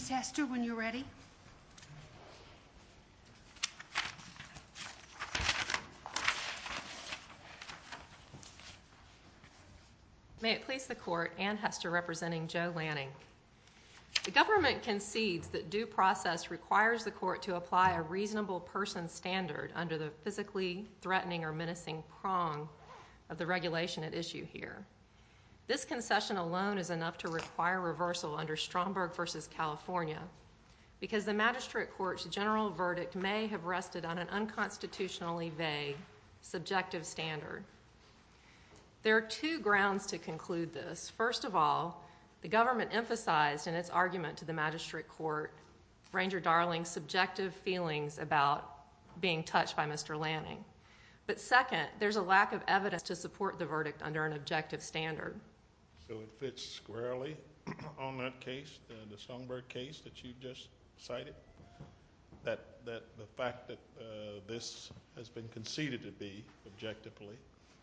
May it please the Court, Anne Hester representing Joe Lanning. The government concedes that due process requires the Court to apply a reasonable person standard under the physically threatening or menacing prong of the regulation at issue here. This concession alone is enough to require reversal under Stromberg v. California because the Magistrate Court's general verdict may have rested on an unconstitutionally vague subjective standard. There are two grounds to conclude this. First of all, the government emphasized in its argument to the Magistrate Court, Ranger Darling's subjective feelings about being touched by Mr. Lanning. But second, there's a lack of evidence to support the verdict under an objective standard. So it fits squarely on that case, the Stromberg case that you just cited, that the fact that this has been conceded to be objectively,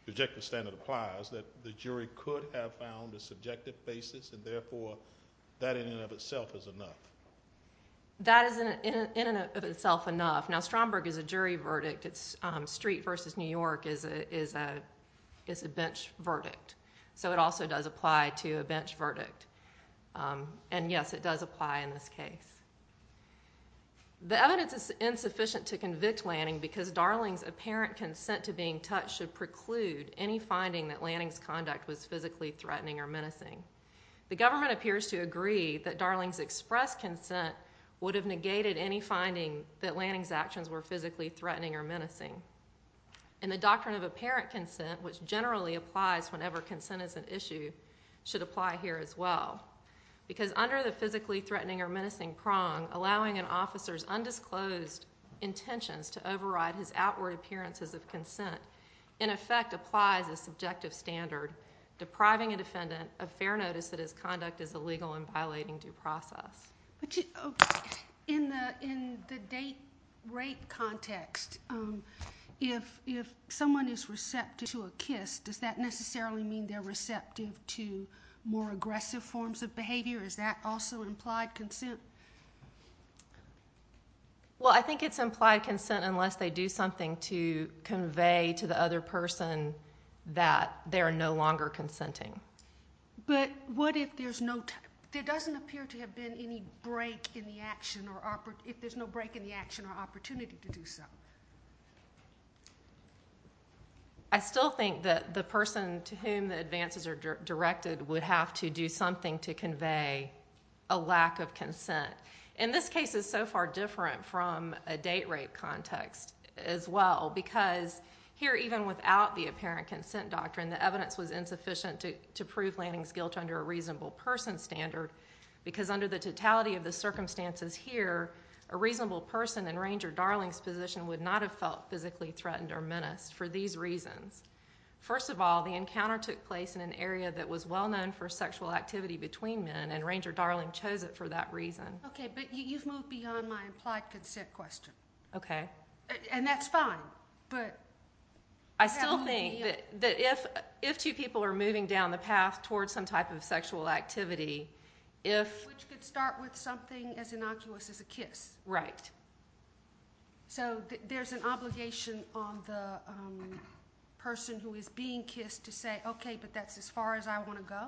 the objective standard applies, that the jury could have found a subjective basis and therefore that in and of itself is enough. That is in and of itself enough. Now Stromberg is a jury verdict, it's Street v. New York is a bench verdict. So it also does apply to a bench verdict. And yes, it does apply in this case. The evidence is insufficient to convict Lanning because Darling's apparent consent to being touched should preclude any finding that Lanning's conduct was physically threatening or menacing. The government appears to agree that Darling's express consent would have negated any finding that Lanning's actions were physically threatening or menacing. And the doctrine of apparent consent, which generally applies whenever consent is an issue, should apply here as well. Because under the physically threatening or menacing prong, allowing an officer's undisclosed intentions to override his outward appearances of consent, in effect applies a subjective standard depriving a defendant of fair notice that his conduct is illegal and violating due process. In the date rape context, if someone is receptive to a kiss, does that necessarily mean they're receptive to more aggressive forms of behavior? Is that also implied consent? Well, I think it's implied consent unless they do something to convey to the other person that they're no longer consenting. But what if there's no time, there doesn't appear to have been any break in the action or opportunity, if there's no break in the action or opportunity to do so? I still think that the person to whom the advances are directed would have to do something to convey a lack of consent. In this case, it's so far different from a date rape context as well because here even without the apparent consent doctrine, the evidence was insufficient to prove Lanning's guilt under a reasonable person standard. Because under the totality of the circumstances here, a reasonable person in Ranger Darling's position would not have felt physically threatened or menaced for these reasons. First of all, the encounter took place in an area that was well-known for sexual activity between men and Ranger Darling chose it for that reason. Okay, but you've moved beyond my implied consent question. Okay. And that's fine, but... I still think that if two people are moving down the path towards some type of sexual activity, if... Which could start with something as innocuous as a kiss. Right. So there's an obligation on the person who is being kissed to say, okay, but that's as far as I want to go?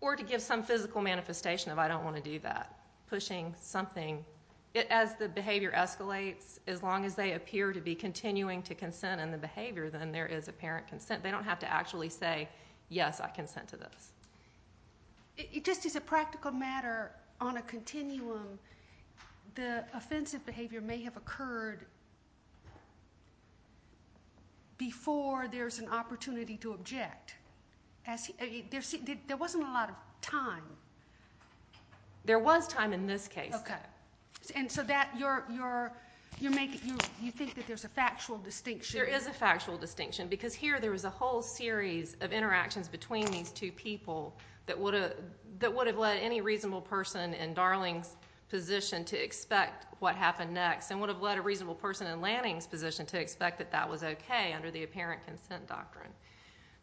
Or to give some physical manifestation of I don't want to do that, pushing something. As the behavior escalates, as long as they appear to be continuing to consent in the behavior, then there is apparent consent. They don't have to actually say, yes, I consent to this. It just is a practical matter on a continuum. The offensive behavior may have occurred before there's an opportunity to object. There wasn't a lot of time. There was time in this case. Okay. And so that you're making... You think that there's a factual distinction. There is a factual distinction, because here there was a whole series of interactions between these two people that would have led any reasonable person in Darling's position to expect what happened next, and would have led a reasonable person in Lanning's position to expect that that was okay under the apparent consent doctrine.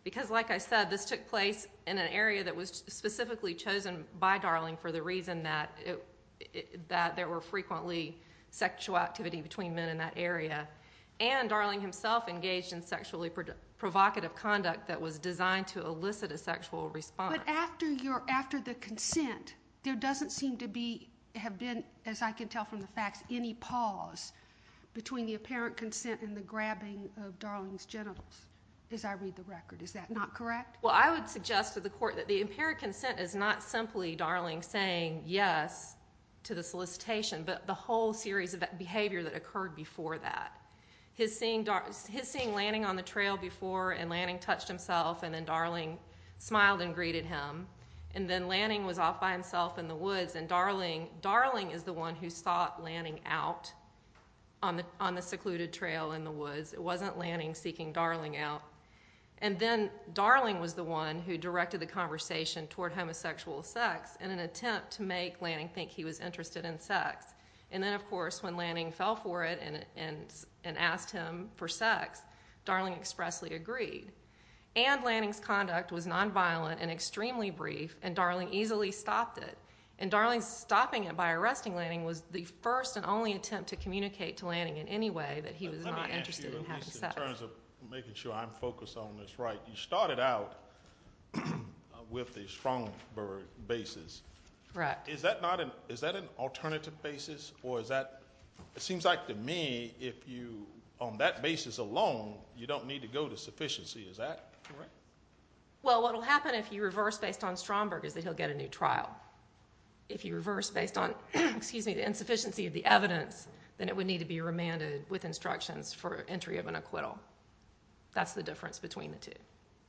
Because like I said, this took place in an area that was specifically chosen by Darling for the reason that there were frequently sexual activity between men in that area. And Darling himself engaged in sexually provocative conduct that was designed to elicit a sexual response. But after the consent, there doesn't seem to have been, as I can tell from the facts, any pause between the apparent consent and the grabbing of Darling's genitals, as I read the record. Is that not correct? Well, I would suggest to the court that the apparent consent is not simply Darling saying yes to the solicitation, but the whole series of behavior that occurred before that. His seeing Lanning on the trail before, and Lanning touched himself, and then Darling smiled and greeted him. And then Lanning was off by himself in the woods, and Darling is the one who sought Lanning out on the secluded trail in the woods. It wasn't Lanning seeking Darling out. And then Darling was the one who directed the conversation toward homosexual sex in an attempt to make Lanning think he was interested in sex. And then, of course, when Lanning fell for it and asked him for sex, Darling expressly agreed. And Lanning's conduct was nonviolent and extremely brief, and Darling easily stopped it. And Darling's stopping it by arresting Lanning was the first and only attempt to communicate to Lanning in any way that he was not interested in having sex. Let me ask you, at least in terms of making sure I'm focused on this right, you started out with the Stromberg basis. Is that an alternative basis, or is that, it seems like to me, if you, on that basis alone, you don't need to go to sufficiency, is that correct? Well, what will happen if you reverse based on Stromberg is that he'll get a new trial. If you reverse based on, excuse me, the insufficiency of the evidence, then it would need to be remanded with instructions for entry of an acquittal. That's the difference between the two.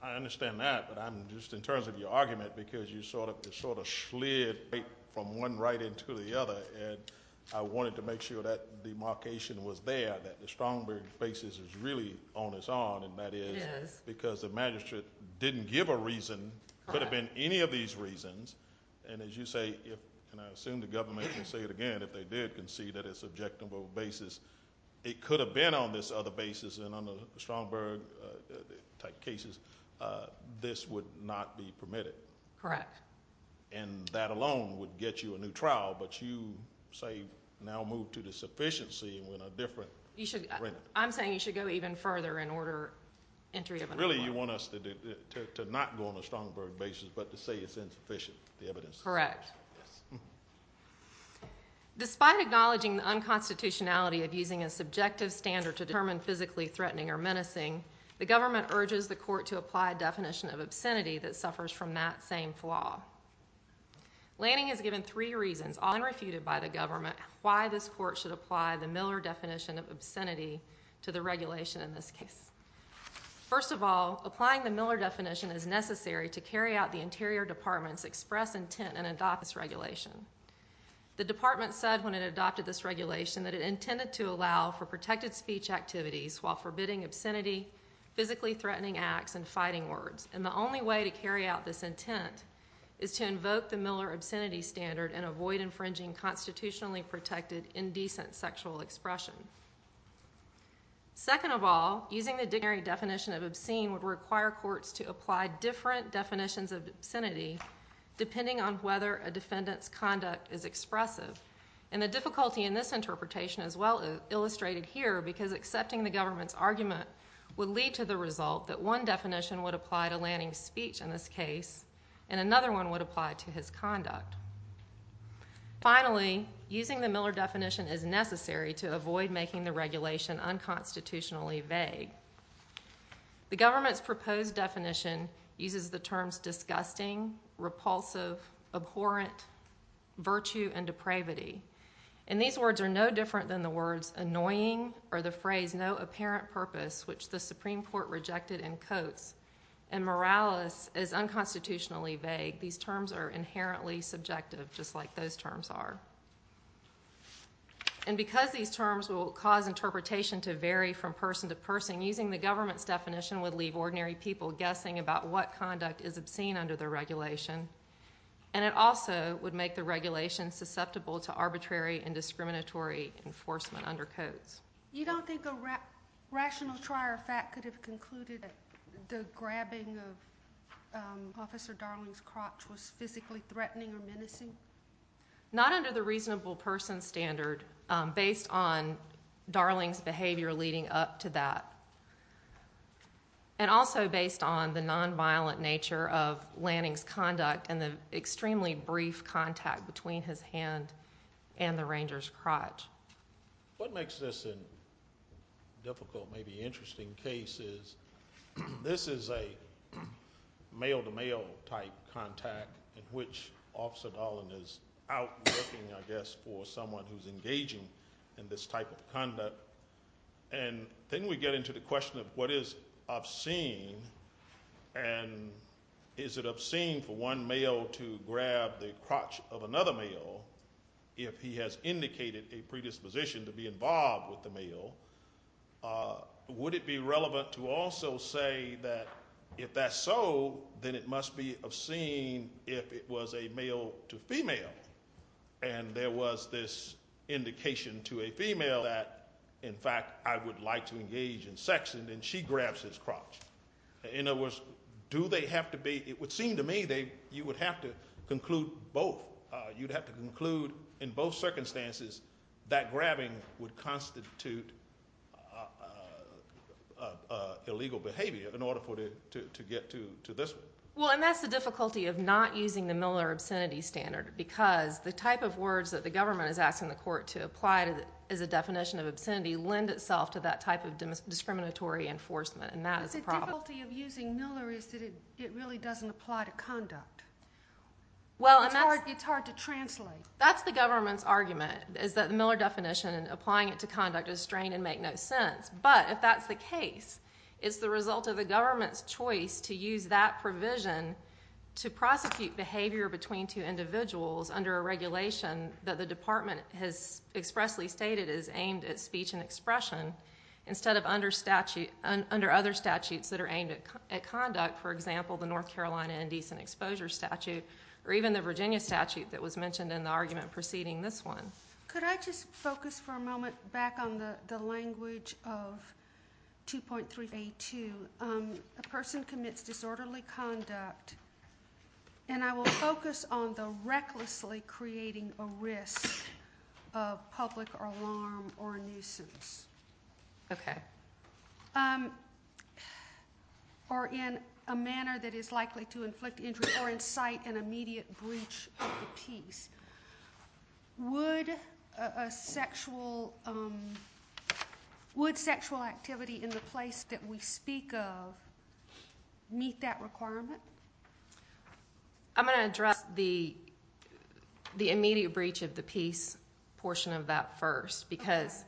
I understand that, but I'm just, in terms of your argument, because you sort of slid from one right into the other, and I wanted to make sure that demarcation was there, that the Stromberg basis is really on its own, and that is because the magistrate didn't give a reason, could have been any of these reasons, and as you say, and I assume the government can say it again, if they did concede that it's an objectable basis, it could have been on this other basis, and on the Stromberg type cases, this would not be permitted. Correct. And that alone would get you a new trial, but you, say, now move to the sufficiency with a different remand. I'm saying you should go even further in order, entry of an acquittal. Really you want us to not go on a Stromberg basis, but to say it's insufficient, the evidence. Correct. Yes. Despite acknowledging the unconstitutionality of using a subjective standard to determine physically threatening or menacing, the government urges the court to apply a definition of obscenity that suffers from that same flaw. Lanning has given three reasons, all unrefuted by the government, why this court should apply the Miller definition of obscenity to the regulation in this case. First of all, applying the Miller definition is necessary to carry out the interior department's express intent and adopt this regulation. The department said when it adopted this regulation that it intended to allow for protected speech activities while forbidding obscenity, physically threatening acts, and fighting words, and the only way to carry out this intent is to invoke the Miller obscenity standard and avoid infringing constitutionally protected indecent sexual expression. Second of all, using the dictionary definition of obscene would require courts to apply different definitions of obscenity depending on whether a defendant's conduct is expressive. And the difficulty in this interpretation is well illustrated here because accepting the government's argument would lead to the result that one definition would apply to Lanning's speech in this case and another one would apply to his conduct. Finally, using the Miller definition is necessary to avoid making the regulation unconstitutionally vague. The government's proposed definition uses the terms disgusting, repulsive, abhorrent, virtue, and depravity. And these words are no different than the words annoying or the phrase no apparent purpose which the Supreme Court rejected in Coates and Morales is unconstitutionally vague. These terms are inherently subjective just like those terms are. And because these terms will cause interpretation to vary from person to person, using the government's definition would leave ordinary people guessing about what conduct is obscene under the regulation. And it also would make the regulation susceptible to arbitrary and discriminatory enforcement under Coates. You don't think a rational trier of fact could have concluded that the grabbing of Officer Darling's crotch was physically threatening or menacing? Not under the reasonable person standard based on Darling's behavior leading up to that. And also based on the nonviolent nature of Lanning's conduct and the extremely brief contact between his hand and the ranger's crotch. What makes this a difficult, maybe interesting case is this is a male-to-male type contact in which Officer Darling is out looking, I guess, for someone who's engaging in this type of conduct. And then we get into the question of what is obscene and is it obscene for one male to grab the crotch of another male if he has indicated a predisposition to be involved with the male? Would it be relevant to also say that if that's so, then it must be obscene if it was a male-to-female and there was this indication to a female that, in fact, I would like to engage in sex and then she grabs his crotch. In other words, do they have to be, it would seem to me that you would have to conclude both. You'd have to conclude in both circumstances that grabbing would constitute illegal behavior in order for it to get to this one. Well, and that's the difficulty of not using the Miller obscenity standard because the type of words that the government is asking the court to apply as a definition of obscenity lend itself to that type of discriminatory enforcement and that is a problem. But the difficulty of using Miller is that it really doesn't apply to conduct. It's hard to translate. That's the government's argument is that the Miller definition and applying it to conduct is strained and make no sense. But if that's the case, it's the result of the government's choice to use that provision to prosecute behavior between two individuals under a regulation that the department has expressly stated is aimed at speech and expression instead of under other statutes that are aimed at conduct, for example, the North Carolina Indecent Exposure Statute or even the Virginia statute that was mentioned in the argument preceding this one. Could I just focus for a moment back on the language of 2.382, a person commits disorderly conduct and I will focus on the recklessly creating a risk of public alarm or a nuisance. Okay. Or in a manner that is likely to inflict injury or incite an immediate breach of the peace. Would sexual activity in the place that we speak of meet that requirement? I'm going to address the immediate breach of the peace portion of that first because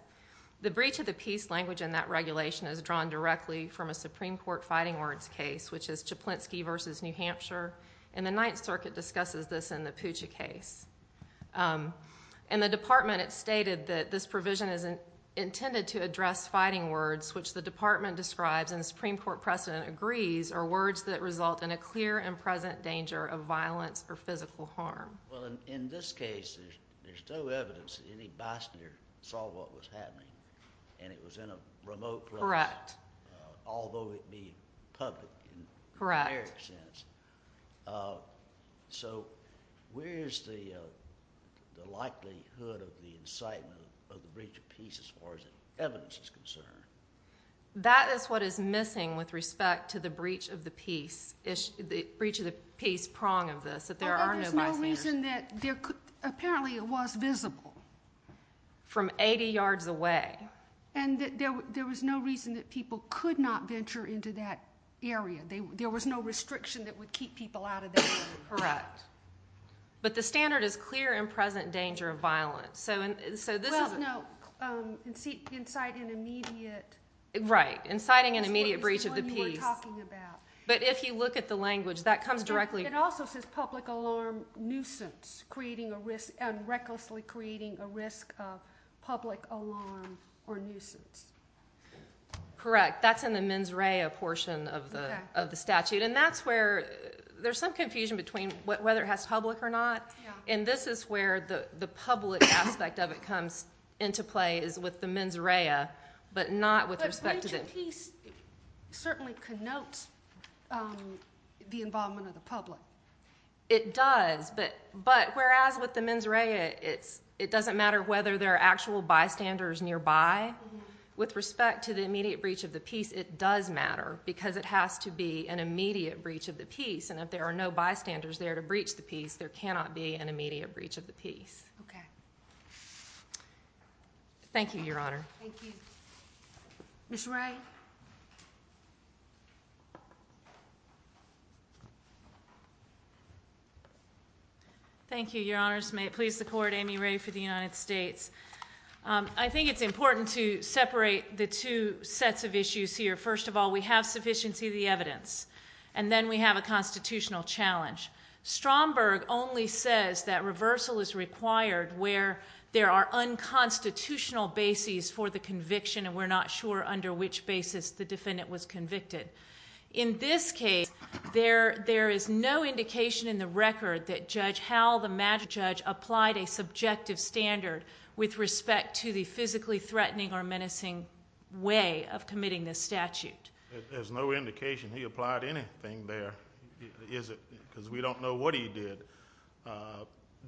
the breach of the peace language in that regulation is drawn directly from a Supreme Court fighting words case which is Chaplinsky versus New Hampshire and the Ninth Circuit discusses this in the Puccia case. In the department it stated that this provision is intended to address fighting words which the department describes and the Supreme Court precedent agrees are words that result in a clear and present danger of violence or physical harm. In this case, there's no evidence that any bystander saw what was happening and it was in a remote place, although it be public in a generic sense. So where is the likelihood of the incitement of the breach of peace as far as evidence is concerned? That is what is missing with respect to the breach of the peace prong of this, that there are no bystanders. So there's no reason that there could, apparently it was visible. From 80 yards away. And that there was no reason that people could not venture into that area, there was no restriction that would keep people out of that area. Correct. But the standard is clear and present danger of violence. So this is. Well no, inciting an immediate. Right, inciting an immediate breach of the peace. But if you look at the language, that comes directly. It also says public alarm nuisance, creating a risk and recklessly creating a risk of public alarm or nuisance. Correct. That's in the mens rea portion of the statute. And that's where there's some confusion between whether it has public or not. And this is where the public aspect of it comes into play is with the mens rea, but not with respect to the. The piece certainly connotes the involvement of the public. It does. But, but whereas with the mens rea, it's, it doesn't matter whether there are actual bystanders nearby. With respect to the immediate breach of the peace, it does matter because it has to be an immediate breach of the peace. And if there are no bystanders there to breach the peace, there cannot be an immediate breach of the peace. Okay. Thank you, Your Honor. Thank you. Ms. Ray. Thank you, Your Honors. May it please the court, Amy Ray for the United States. I think it's important to separate the two sets of issues here. First of all, we have sufficiency of the evidence and then we have a constitutional challenge. Stromberg only says that reversal is required where there are unconstitutional bases for the conviction and we're not sure under which basis the defendant was convicted. In this case, there, there is no indication in the record that Judge Howell, the magistrate judge, applied a subjective standard with respect to the physically threatening or menacing way of committing this statute. There's no indication he applied anything there, is it? Because we don't know what he did.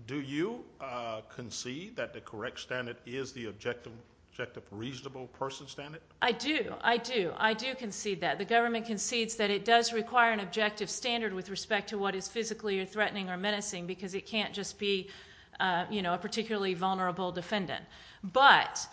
Do you concede that the correct standard is the objective reasonable person standard? I do. I do. I do concede that. The government concedes that it does require an objective standard with respect to what is physically threatening or menacing because it can't just be, you know, a particularly vulnerable defendant. But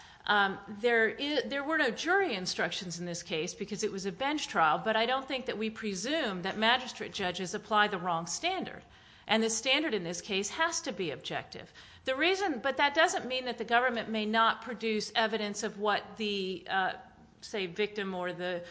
there were no jury instructions in this case because it was a bench trial, but I don't think that we presume that magistrate judges apply the wrong standard. And the standard in this case has to be objective. The reason, but that doesn't mean that the government may not produce evidence of what the, say, victim or the,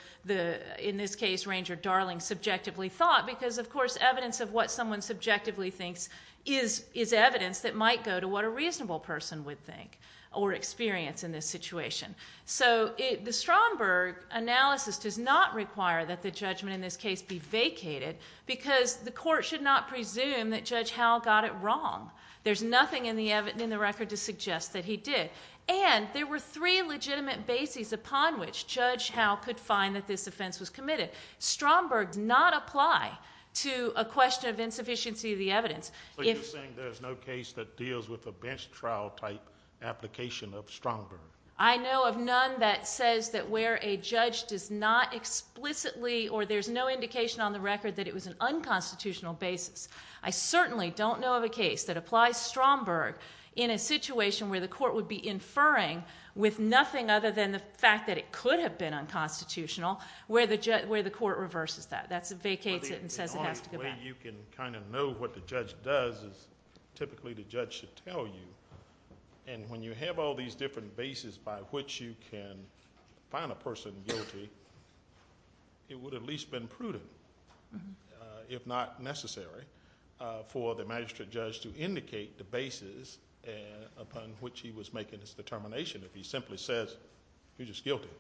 in this case, Ranger Darling, subjectively thought because of course evidence of what someone subjectively thinks is evidence that might go to what a reasonable person would think or experience in this situation. So the Stromberg analysis does not require that the judgment in this case be vacated because the court should not presume that Judge Howell got it wrong. There's nothing in the record to suggest that he did. And there were three legitimate bases upon which Judge Howell could find that this offense was committed. Stromberg did not apply to a question of insufficiency of the evidence. So you're saying there's no case that deals with a bench trial type application of Stromberg? I know of none that says that where a judge does not explicitly or there's no indication on the record that it was an unconstitutional basis. I certainly don't know of a case that applies Stromberg in a situation where the court would be inferring with nothing other than the fact that it could have been unconstitutional where the court reverses that. That's vacates it and says it has to go back. You can kind of know what the judge does is typically the judge should tell you. And when you have all these different bases by which you can find a person guilty, it would have at least been prudent, if not necessary, for the magistrate judge to indicate the bases upon which he was making his determination if he simply says he's just guilty.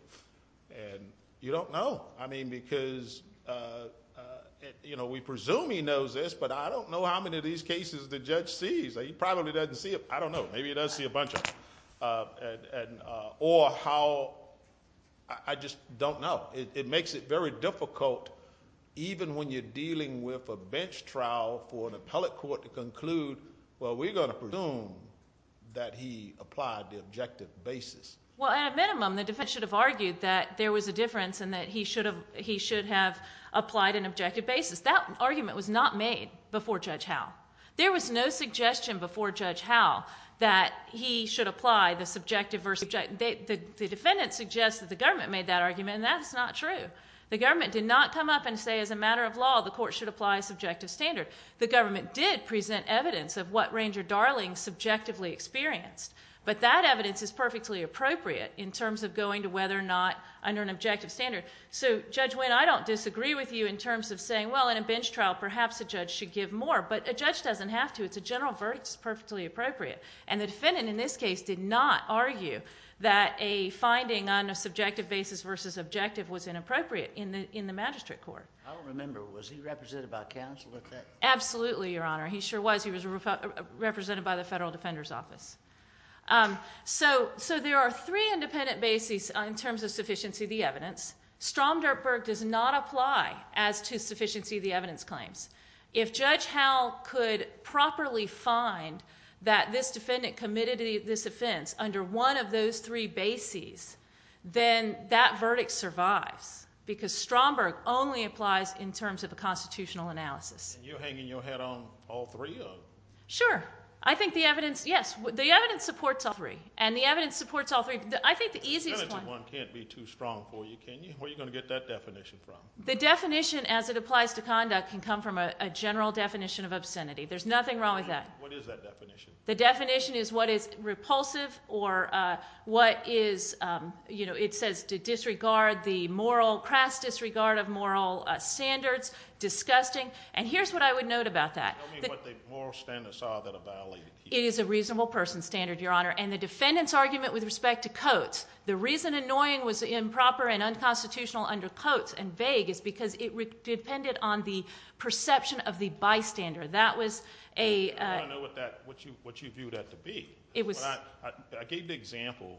And you don't know. I mean, because, you know, we presume he knows this, but I don't know how many of these cases the judge sees. He probably doesn't see them. I don't know. Maybe he does see a bunch of them. Or how, I just don't know. Well, it makes it very difficult even when you're dealing with a bench trial for an appellate court to conclude, well, we're going to presume that he applied the objective basis. Well, at a minimum, the defense should have argued that there was a difference and that he should have applied an objective basis. That argument was not made before Judge Howe. There was no suggestion before Judge Howe that he should apply the subjective versus The defendant suggests that the government made that argument, and that's not true. The government did not come up and say as a matter of law the court should apply a subjective standard. The government did present evidence of what Ranger Darling subjectively experienced. But that evidence is perfectly appropriate in terms of going to whether or not under an objective standard. So Judge Winn, I don't disagree with you in terms of saying, well, in a bench trial, perhaps a judge should give more. But a judge doesn't have to. It's a general verdict. It's perfectly appropriate. And the defendant, in this case, did not argue that a finding on a subjective basis versus objective was inappropriate in the magistrate court. I don't remember. Was he represented by counsel at that time? Absolutely, Your Honor. He sure was. He was represented by the Federal Defender's Office. So there are three independent bases in terms of sufficiency of the evidence. Stromdorfberg does not apply as to sufficiency of the evidence claims. If Judge Howell could properly find that this defendant committed this offense under one of those three bases, then that verdict survives. Because Stromberg only applies in terms of a constitutional analysis. And you're hanging your head on all three of them? Sure. I think the evidence, yes. The evidence supports all three. And the evidence supports all three. I think the easiest one. The definitive one can't be too strong for you, can you? Where are you going to get that definition from? The definition as it applies to conduct can come from a general definition of obscenity. There's nothing wrong with that. What is that definition? The definition is what is repulsive or what is, you know, it says to disregard the moral, crass disregard of moral standards, disgusting. And here's what I would note about that. Tell me what the moral standards are that are violated here. It is a reasonable person's standard, Your Honor. And the defendant's argument with respect to Coates, the reason annoying was improper and unconstitutional under Coates and vague is because it depended on the perception of the bystander. That was a... I don't know what that, what you viewed that to be. It was... I gave the example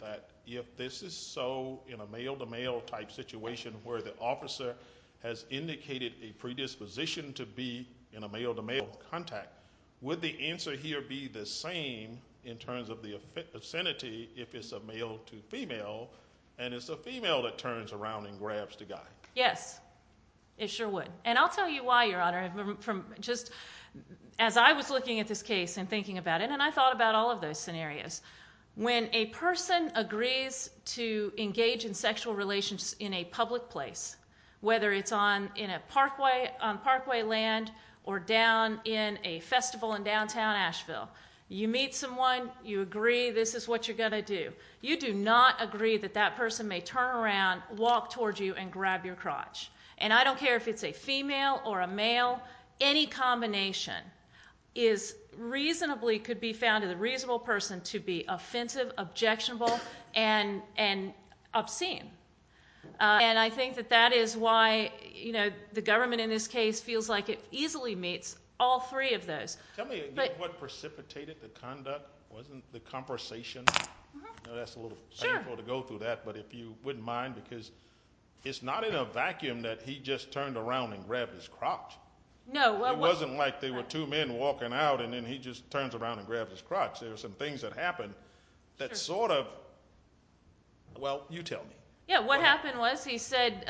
that if this is so in a male-to-male type situation where the officer has indicated a predisposition to be in a male-to-male contact, would the answer here be the same in terms of the obscenity if it's a male-to-female and it's a female that turns around and grabs the guy? Yes. It sure would. And I'll tell you why, Your Honor, from just... As I was looking at this case and thinking about it, and I thought about all of those scenarios, when a person agrees to engage in sexual relations in a public place, whether it's on, in a parkway, on parkway land or down in a festival in downtown Asheville, you meet someone, you agree this is what you're going to do. You do not agree that that person may turn around, walk towards you and grab your crotch. And I don't care if it's a female or a male, any combination is reasonably, could be found in a reasonable person to be offensive, objectionable and obscene. And I think that that is why the government in this case feels like it easily meets all three of those. Tell me, what precipitated the conduct, wasn't the conversation, that's a little painful to go through that, but if you wouldn't mind, because it's not in a vacuum that he just turned around and grabbed his crotch. No. It wasn't like there were two men walking out and then he just turns around and grabs his crotch. There were some things that happened that sort of... Well you tell me. Yeah, what happened was he said,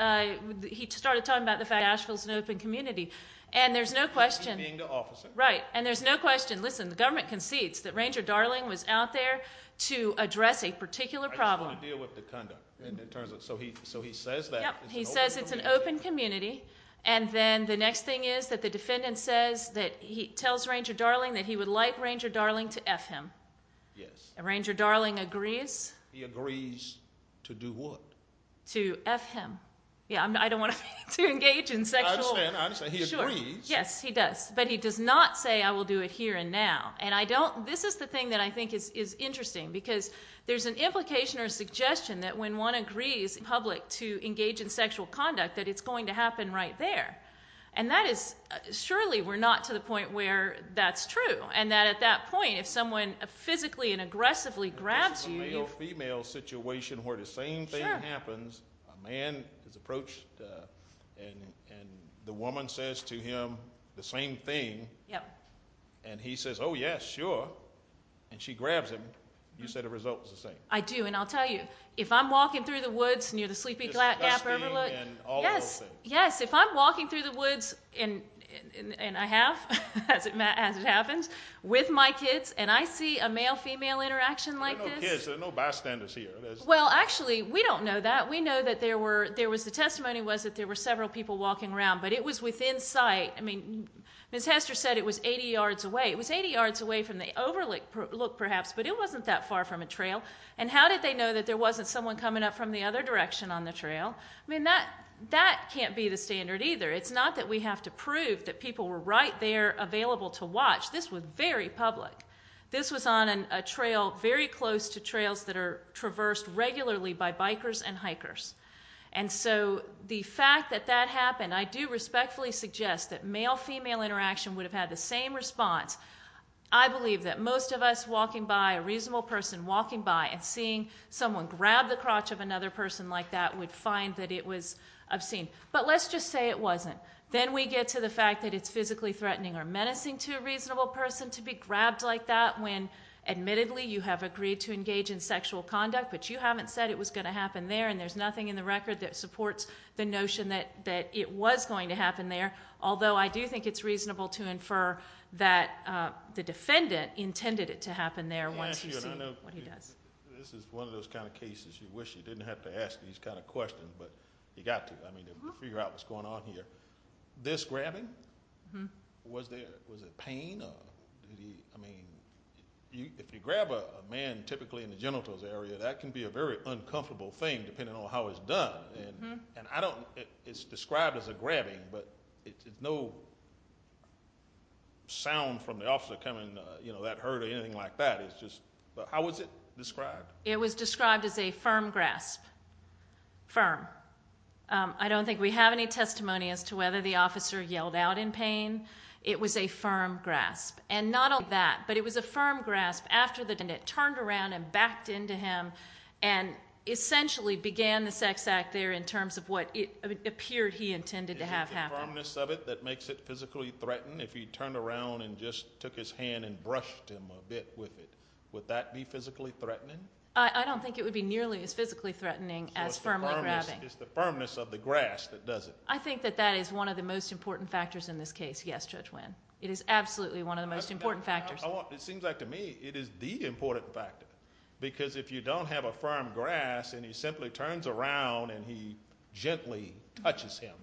he started talking about the fact that Asheville is an open community and there's no question... He's being the officer. Right. And there's no question, listen, the government concedes that Ranger Darling was out there to address a particular problem. I just want to deal with the conduct. So he says that. Yep, he says it's an open community and then the next thing is that the defendant says that he tells Ranger Darling that he would like Ranger Darling to F him. Yes. And Ranger Darling agrees? He agrees to do what? To F him. Yeah, I don't want to engage in sexual... I understand, I understand. He agrees. Yes, he does. But he does not say I will do it here and now. And I don't... This is the thing that I think is interesting because there's an implication or suggestion that when one agrees in public to engage in sexual conduct that it's going to happen right there. And that is... Surely we're not to the point where that's true and that at that point if someone physically and aggressively grabs you... If it's a male-female situation where the same thing happens, a man is approached and the woman says to him the same thing and he says, oh yes, sure, and she grabs him, you said the result was the same. I do and I'll tell you, if I'm walking through the woods near the Sleepy Gap River, yes, if I'm walking through the woods and I have, as it happens, with my kids and I see a male and a female interaction like this... There are no kids. There are no bystanders here. Well, actually, we don't know that. We know that there were... There was... The testimony was that there were several people walking around, but it was within sight. I mean, Ms. Hester said it was 80 yards away. It was 80 yards away from the overlook, perhaps, but it wasn't that far from a trail. And how did they know that there wasn't someone coming up from the other direction on the trail? I mean, that can't be the standard either. It's not that we have to prove that people were right there available to watch. This was very public. This was on a trail very close to trails that are traversed regularly by bikers and hikers. And so the fact that that happened, I do respectfully suggest that male-female interaction would have had the same response. I believe that most of us walking by, a reasonable person walking by and seeing someone grab the crotch of another person like that would find that it was obscene. But let's just say it wasn't. Then we get to the fact that it's physically threatening or menacing to a reasonable person to be grabbed like that when, admittedly, you have agreed to engage in sexual conduct, but you haven't said it was going to happen there and there's nothing in the record that supports the notion that it was going to happen there. Although I do think it's reasonable to infer that the defendant intended it to happen there once he sees what he does. This is one of those kind of cases you wish you didn't have to ask these kind of questions, but you got to. I mean, to figure out what's going on here. This grabbing, was it pain? I mean, if you grab a man typically in the genitals area, that can be a very uncomfortable thing depending on how it's done. It's described as a grabbing, but it's no sound from the officer coming, you know, that hurt or anything like that. How was it described? It was described as a firm grasp, firm. I don't think we have any testimony as to whether the officer yelled out in pain. It was a firm grasp. And not only that, but it was a firm grasp after the defendant turned around and backed into him and essentially began the sex act there in terms of what it appeared he intended to have happen. Is it the firmness of it that makes it physically threatened? If he turned around and just took his hand and brushed him a bit with it, would that be physically threatening? I don't think it would be nearly as physically threatening as firmly grabbing. So it's the firmness of the grasp that does it? I think that that is one of the most important factors in this case, yes, Judge Winn. It is absolutely one of the most important factors. It seems like to me it is the important factor because if you don't have a firm grasp and he simply turns around and he gently touches him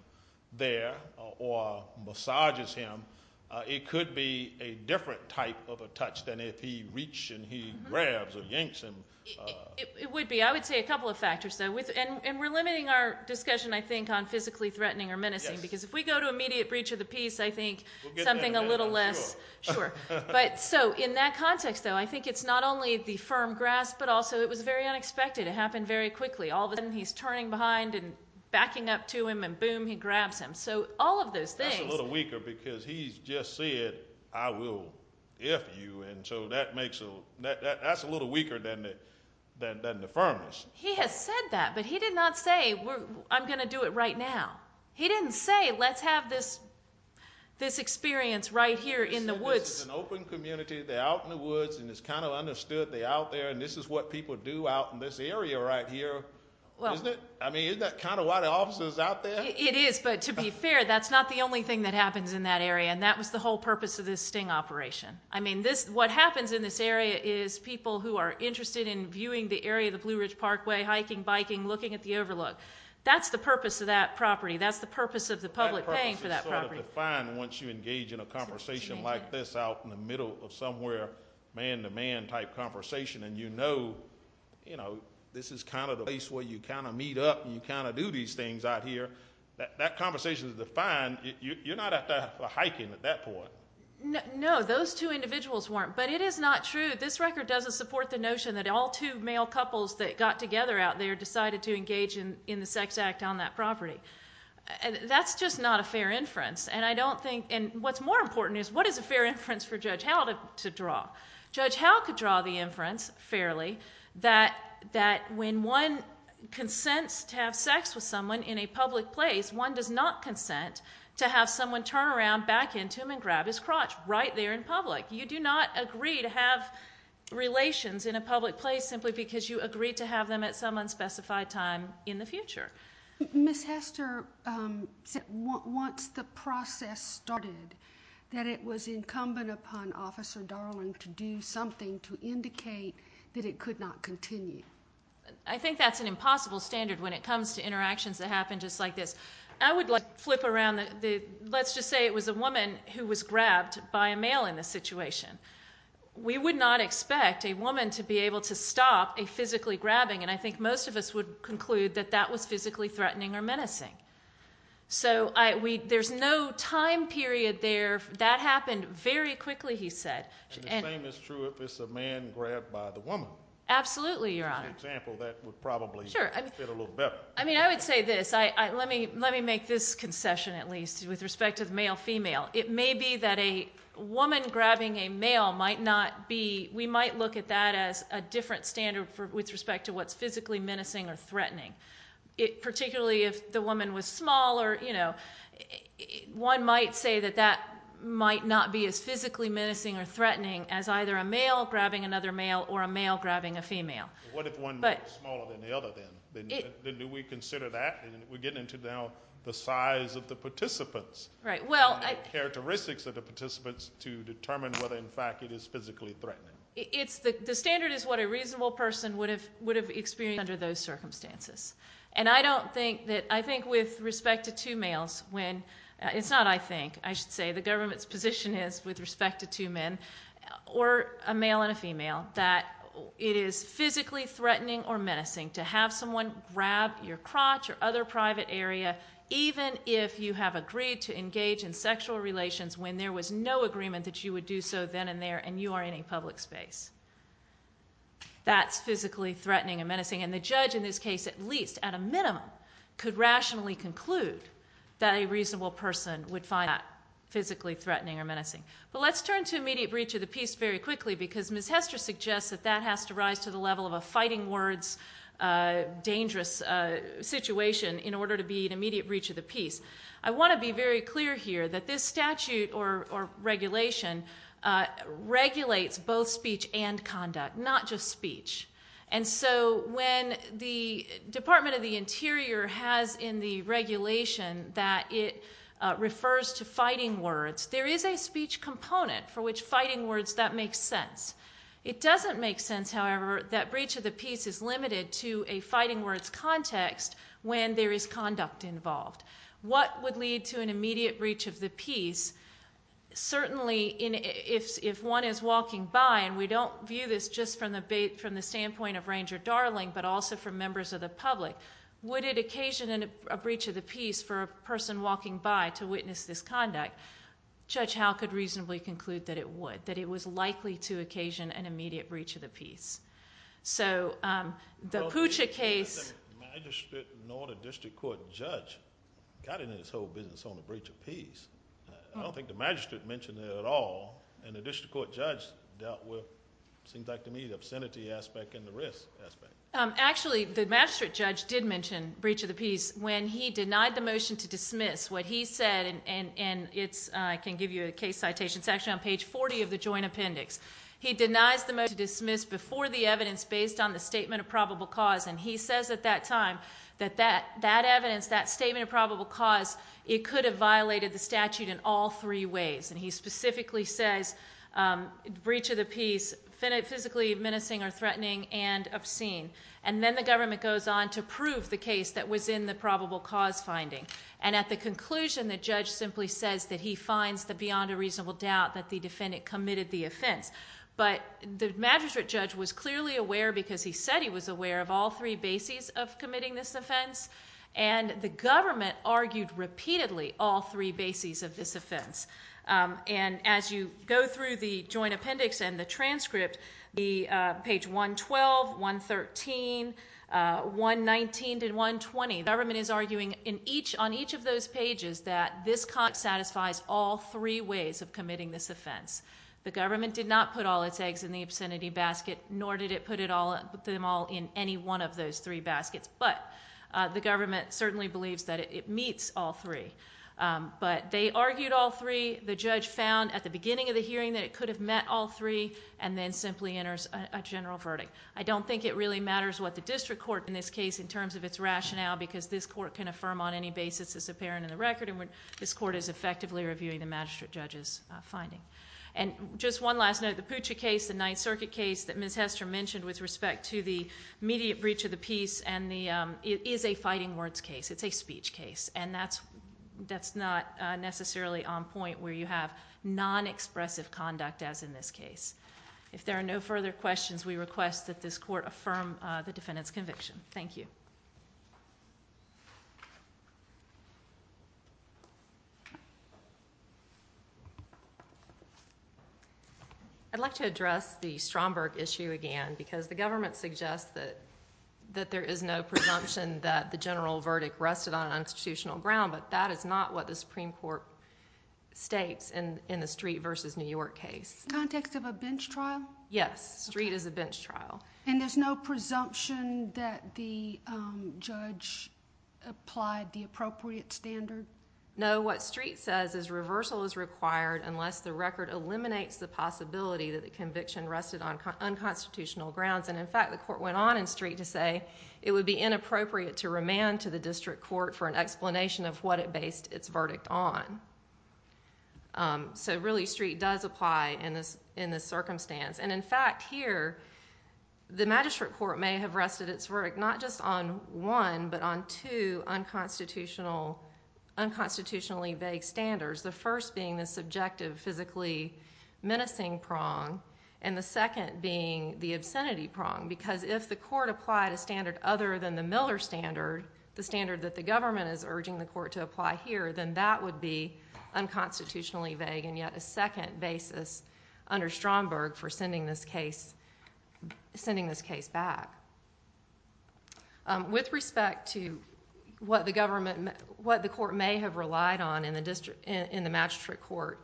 there or massages him, it could be a different type of a touch than if he reached and he grabs or yanks him. It would be. I would say a couple of factors, though. And we're limiting our discussion, I think, on physically threatening or menacing because if we go to immediate breach of the peace, I think something a little less... Sure. But so in that context, though, I think it's not only the firm grasp, but also it was very unexpected. It happened very quickly. All of a sudden he's turning behind and backing up to him and boom, he grabs him. So all of those things... Because he's just said, I will F you, and so that's a little weaker than the firmness. He has said that, but he did not say, I'm going to do it right now. He didn't say, let's have this experience right here in the woods. This is an open community. They're out in the woods and it's kind of understood they're out there and this is what people do out in this area right here, isn't it? I mean, isn't that kind of why the officer's out there? It is. But to be fair, that's not the only thing that happens in that area and that was the whole purpose of this sting operation. I mean, what happens in this area is people who are interested in viewing the area of the Blue Ridge Parkway, hiking, biking, looking at the overlook. That's the purpose of that property. That's the purpose of the public paying for that property. That purpose is sort of defined once you engage in a conversation like this out in the middle of somewhere man to man type conversation and you know this is kind of the place where you kind of meet up and you kind of do these things out here. That conversation is defined. You're not out there hiking at that point. No, those two individuals weren't, but it is not true. This record doesn't support the notion that all two male couples that got together out there decided to engage in the sex act on that property. That's just not a fair inference and I don't think, and what's more important is what is a fair inference for Judge Howell to draw? Judge Howell could draw the inference fairly that when one consents to have sex with someone in a public place, one does not consent to have someone turn around back into him and grab his crotch right there in public. You do not agree to have relations in a public place simply because you agreed to have them at some unspecified time in the future. Ms. Hester said once the process started that it was incumbent upon Officer Darling to do something to indicate that it could not continue. I think that's an impossible standard when it comes to interactions that happen just like this. I would flip around. Let's just say it was a woman who was grabbed by a male in this situation. We would not expect a woman to be able to stop a physically grabbing and I think most of us would conclude that that was physically threatening or menacing. There's no time period there. That happened very quickly, he said. The same is true if it's a man grabbed by the woman. Absolutely, Your Honor. As an example, that would probably fit a little better. I mean, I would say this, let me make this concession at least with respect to the male-female. It may be that a woman grabbing a male might not be, we might look at that as a different standard with respect to what's physically menacing or threatening. Particularly if the woman was smaller, one might say that that might not be as physically grabbing a female. What if one is smaller than the other, then? Do we consider that? We're getting into now the size of the participants and the characteristics of the participants to determine whether in fact it is physically threatening. The standard is what a reasonable person would have experienced under those circumstances. I don't think that, I think with respect to two males, it's not I think, I should say, the government's position is with respect to two men, or a male and a female, that it is physically threatening or menacing to have someone grab your crotch or other private area, even if you have agreed to engage in sexual relations when there was no agreement that you would do so then and there and you are in a public space. That's physically threatening and menacing, and the judge in this case at least at a minimum could rationally conclude that a reasonable person would find that physically threatening or menacing. But let's turn to immediate breach of the peace very quickly because Ms. Hester suggests that that has to rise to the level of a fighting words dangerous situation in order to be an immediate breach of the peace. I want to be very clear here that this statute or regulation regulates both speech and conduct, not just speech. And so when the Department of the Interior has in the regulation that it refers to fighting words, there is a speech component for which fighting words, that makes sense. It doesn't make sense, however, that breach of the peace is limited to a fighting words context when there is conduct involved. What would lead to an immediate breach of the peace, certainly if one is walking by and we don't view this just from the standpoint of Ranger Darling, but also from members of the public, would it occasion a breach of the peace for a person walking by to witness this conduct? Judge Howe could reasonably conclude that it would, that it was likely to occasion an immediate breach of the peace. So the Puccia case- The magistrate nor the district court judge got into this whole business on the breach of peace. I don't think the magistrate mentioned it at all and the district court judge dealt with, it seems like to me, the obscenity aspect and the risk aspect. Actually the magistrate judge did mention breach of the peace when he denied the motion to dismiss what he said and it's, I can give you a case citation section on page 40 of the joint appendix. He denies the motion to dismiss before the evidence based on the statement of probable cause and he says at that time that that evidence, that statement of probable cause, it could have violated the statute in all three ways. And he specifically says breach of the peace physically menacing or threatening and obscene. And then the government goes on to prove the case that was in the probable cause finding. And at the conclusion the judge simply says that he finds that beyond a reasonable doubt that the defendant committed the offense. But the magistrate judge was clearly aware because he said he was aware of all three bases of committing this offense and the government argued repeatedly all three bases of this offense. And as you go through the joint appendix and the transcript, the page 112, 113, 119, and 120, the government is arguing on each of those pages that this satisfies all three ways of committing this offense. The government did not put all its eggs in the obscenity basket nor did it put them all in any one of those three baskets, but the government certainly believes that it meets all three. But they argued all three, the judge found at the beginning of the hearing that it could have met all three, and then simply enters a general verdict. I don't think it really matters what the district court in this case in terms of its rationale because this court can affirm on any basis it's apparent in the record and this court is effectively reviewing the magistrate judge's finding. And just one last note, the Puccia case, the Ninth Circuit case that Ms. Hester mentioned with respect to the immediate breach of the peace and the, it is a fighting words case, it's a speech case. And that's not necessarily on point where you have non-expressive conduct as in this case. If there are no further questions, we request that this court affirm the defendant's conviction. Thank you. I'd like to address the Stromberg issue again because the government suggests that there is no presumption that the general verdict rested on unconstitutional ground, but that is not what the Supreme Court states in the Street v. New York case. In context of a bench trial? Yes. Street is a bench trial. And there's no presumption that the judge applied the appropriate standard? No. What Street says is reversal is required unless the record eliminates the possibility that the conviction rested on unconstitutional grounds. And in fact, the court went on in Street to say it would be inappropriate to remand to the district court for an explanation of what it based its verdict on. So really, Street does apply in this circumstance. And in fact, here, the magistrate court may have rested its verdict not just on one, but on two unconstitutionally vague standards. The first being the subjective physically menacing prong. And the second being the obscenity prong. Because if the court applied a standard other than the Miller standard, the standard that the government is urging the court to apply here, then that would be unconstitutionally vague and yet a second basis under Stromberg for sending this case back. With respect to what the court may have relied on in the magistrate court,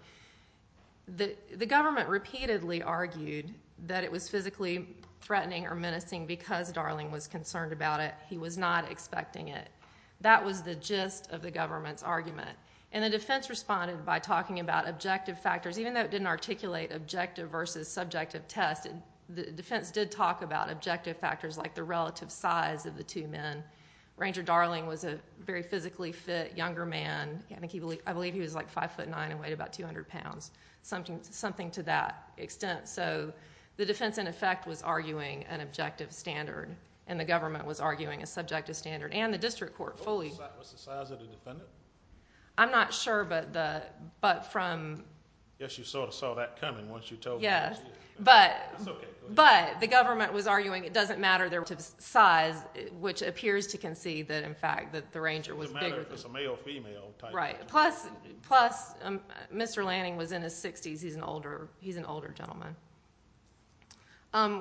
the government repeatedly argued that it was physically threatening or menacing because Darling was concerned about it. He was not expecting it. That was the gist of the government's argument. And the defense responded by talking about objective factors, even though it didn't articulate objective versus subjective test, the defense did talk about objective factors like the relative size of the two men. Ranger Darling was a very physically fit, younger man. I believe he was like five foot nine and weighed about 200 pounds, something to that extent. So the defense, in effect, was arguing an objective standard and the government was arguing a subjective standard and the district court fully... What's the size of the defendant? I'm not sure, but from... Yes, you sort of saw that coming once you told me... Yes, but the government was arguing it doesn't matter their relative size, which appears to concede that, in fact, that the ranger was bigger than... It's a male-female type... Right, plus Mr. Lanning was in his 60s. He's an older gentleman.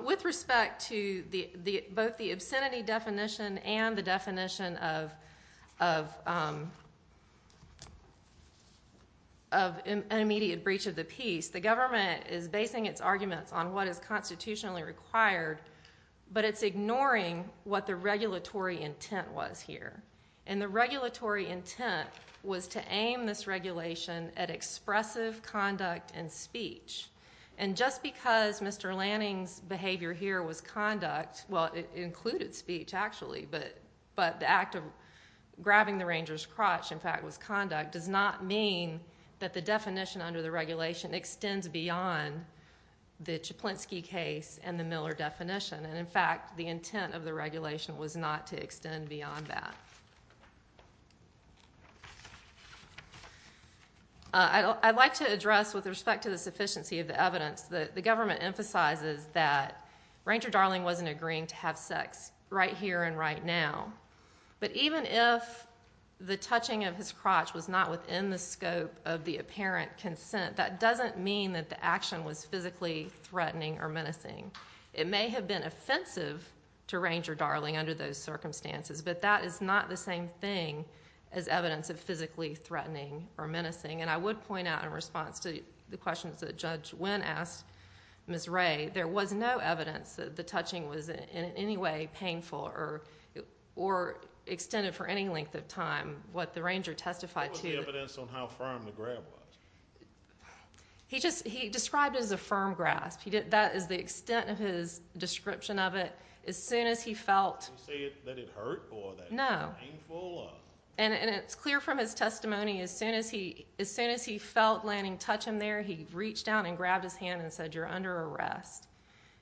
With respect to both the obscenity definition and the definition of an immediate breach of the peace, the government is basing its arguments on what is constitutionally required, but it's ignoring what the regulatory intent was here. The regulatory intent was to aim this regulation at expressive conduct and speech. Just because Mr. Lanning's behavior here was conduct... well, it included speech, actually, but the act of grabbing the ranger's crotch, in fact, was conduct, does not mean that the definition under the regulation extends beyond the Chaplinsky case and the Miller definition. In fact, the intent of the regulation was not to extend beyond that. I'd like to address, with respect to the sufficiency of the evidence, that the government emphasizes that Ranger Darling wasn't agreeing to have sex right here and right now, but even if the touching of his crotch was not within the scope of the apparent consent, that doesn't mean anything. It may have been offensive to Ranger Darling under those circumstances, but that is not the same thing as evidence of physically threatening or menacing. I would point out in response to the questions that Judge Nguyen asked Ms. Ray, there was no evidence that the touching was in any way painful or extended for any length of time. What the ranger testified to... What was the evidence on how firm the grab was? He described it as a firm grasp. That is the extent of his description of it. As soon as he felt... Did he say that it hurt or that it was painful? No. And it's clear from his testimony, as soon as he felt Lanning touch him there, he reached down and grabbed his hand and said, you're under arrest.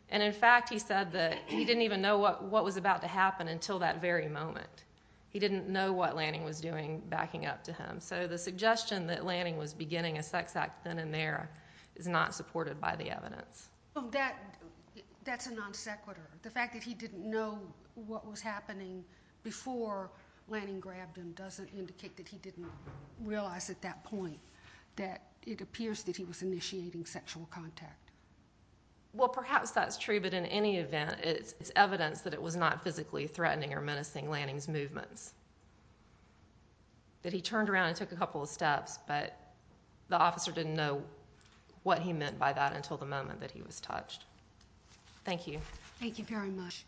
And in fact, he said that he didn't even know what was about to happen until that very moment. He didn't know what Lanning was doing backing up to him. So the suggestion that Lanning was beginning a sex act then and there is not supported by the evidence. That's a non-sequitur. The fact that he didn't know what was happening before Lanning grabbed him doesn't indicate that he didn't realize at that point that it appears that he was initiating sexual contact. Well, perhaps that's true, but in any event, it's evidence that it was not physically threatening or menacing Lanning's movements. That he turned around and took a couple of steps, but the officer didn't know what he was talking about until the moment that he was touched. Thank you. Thank you very much.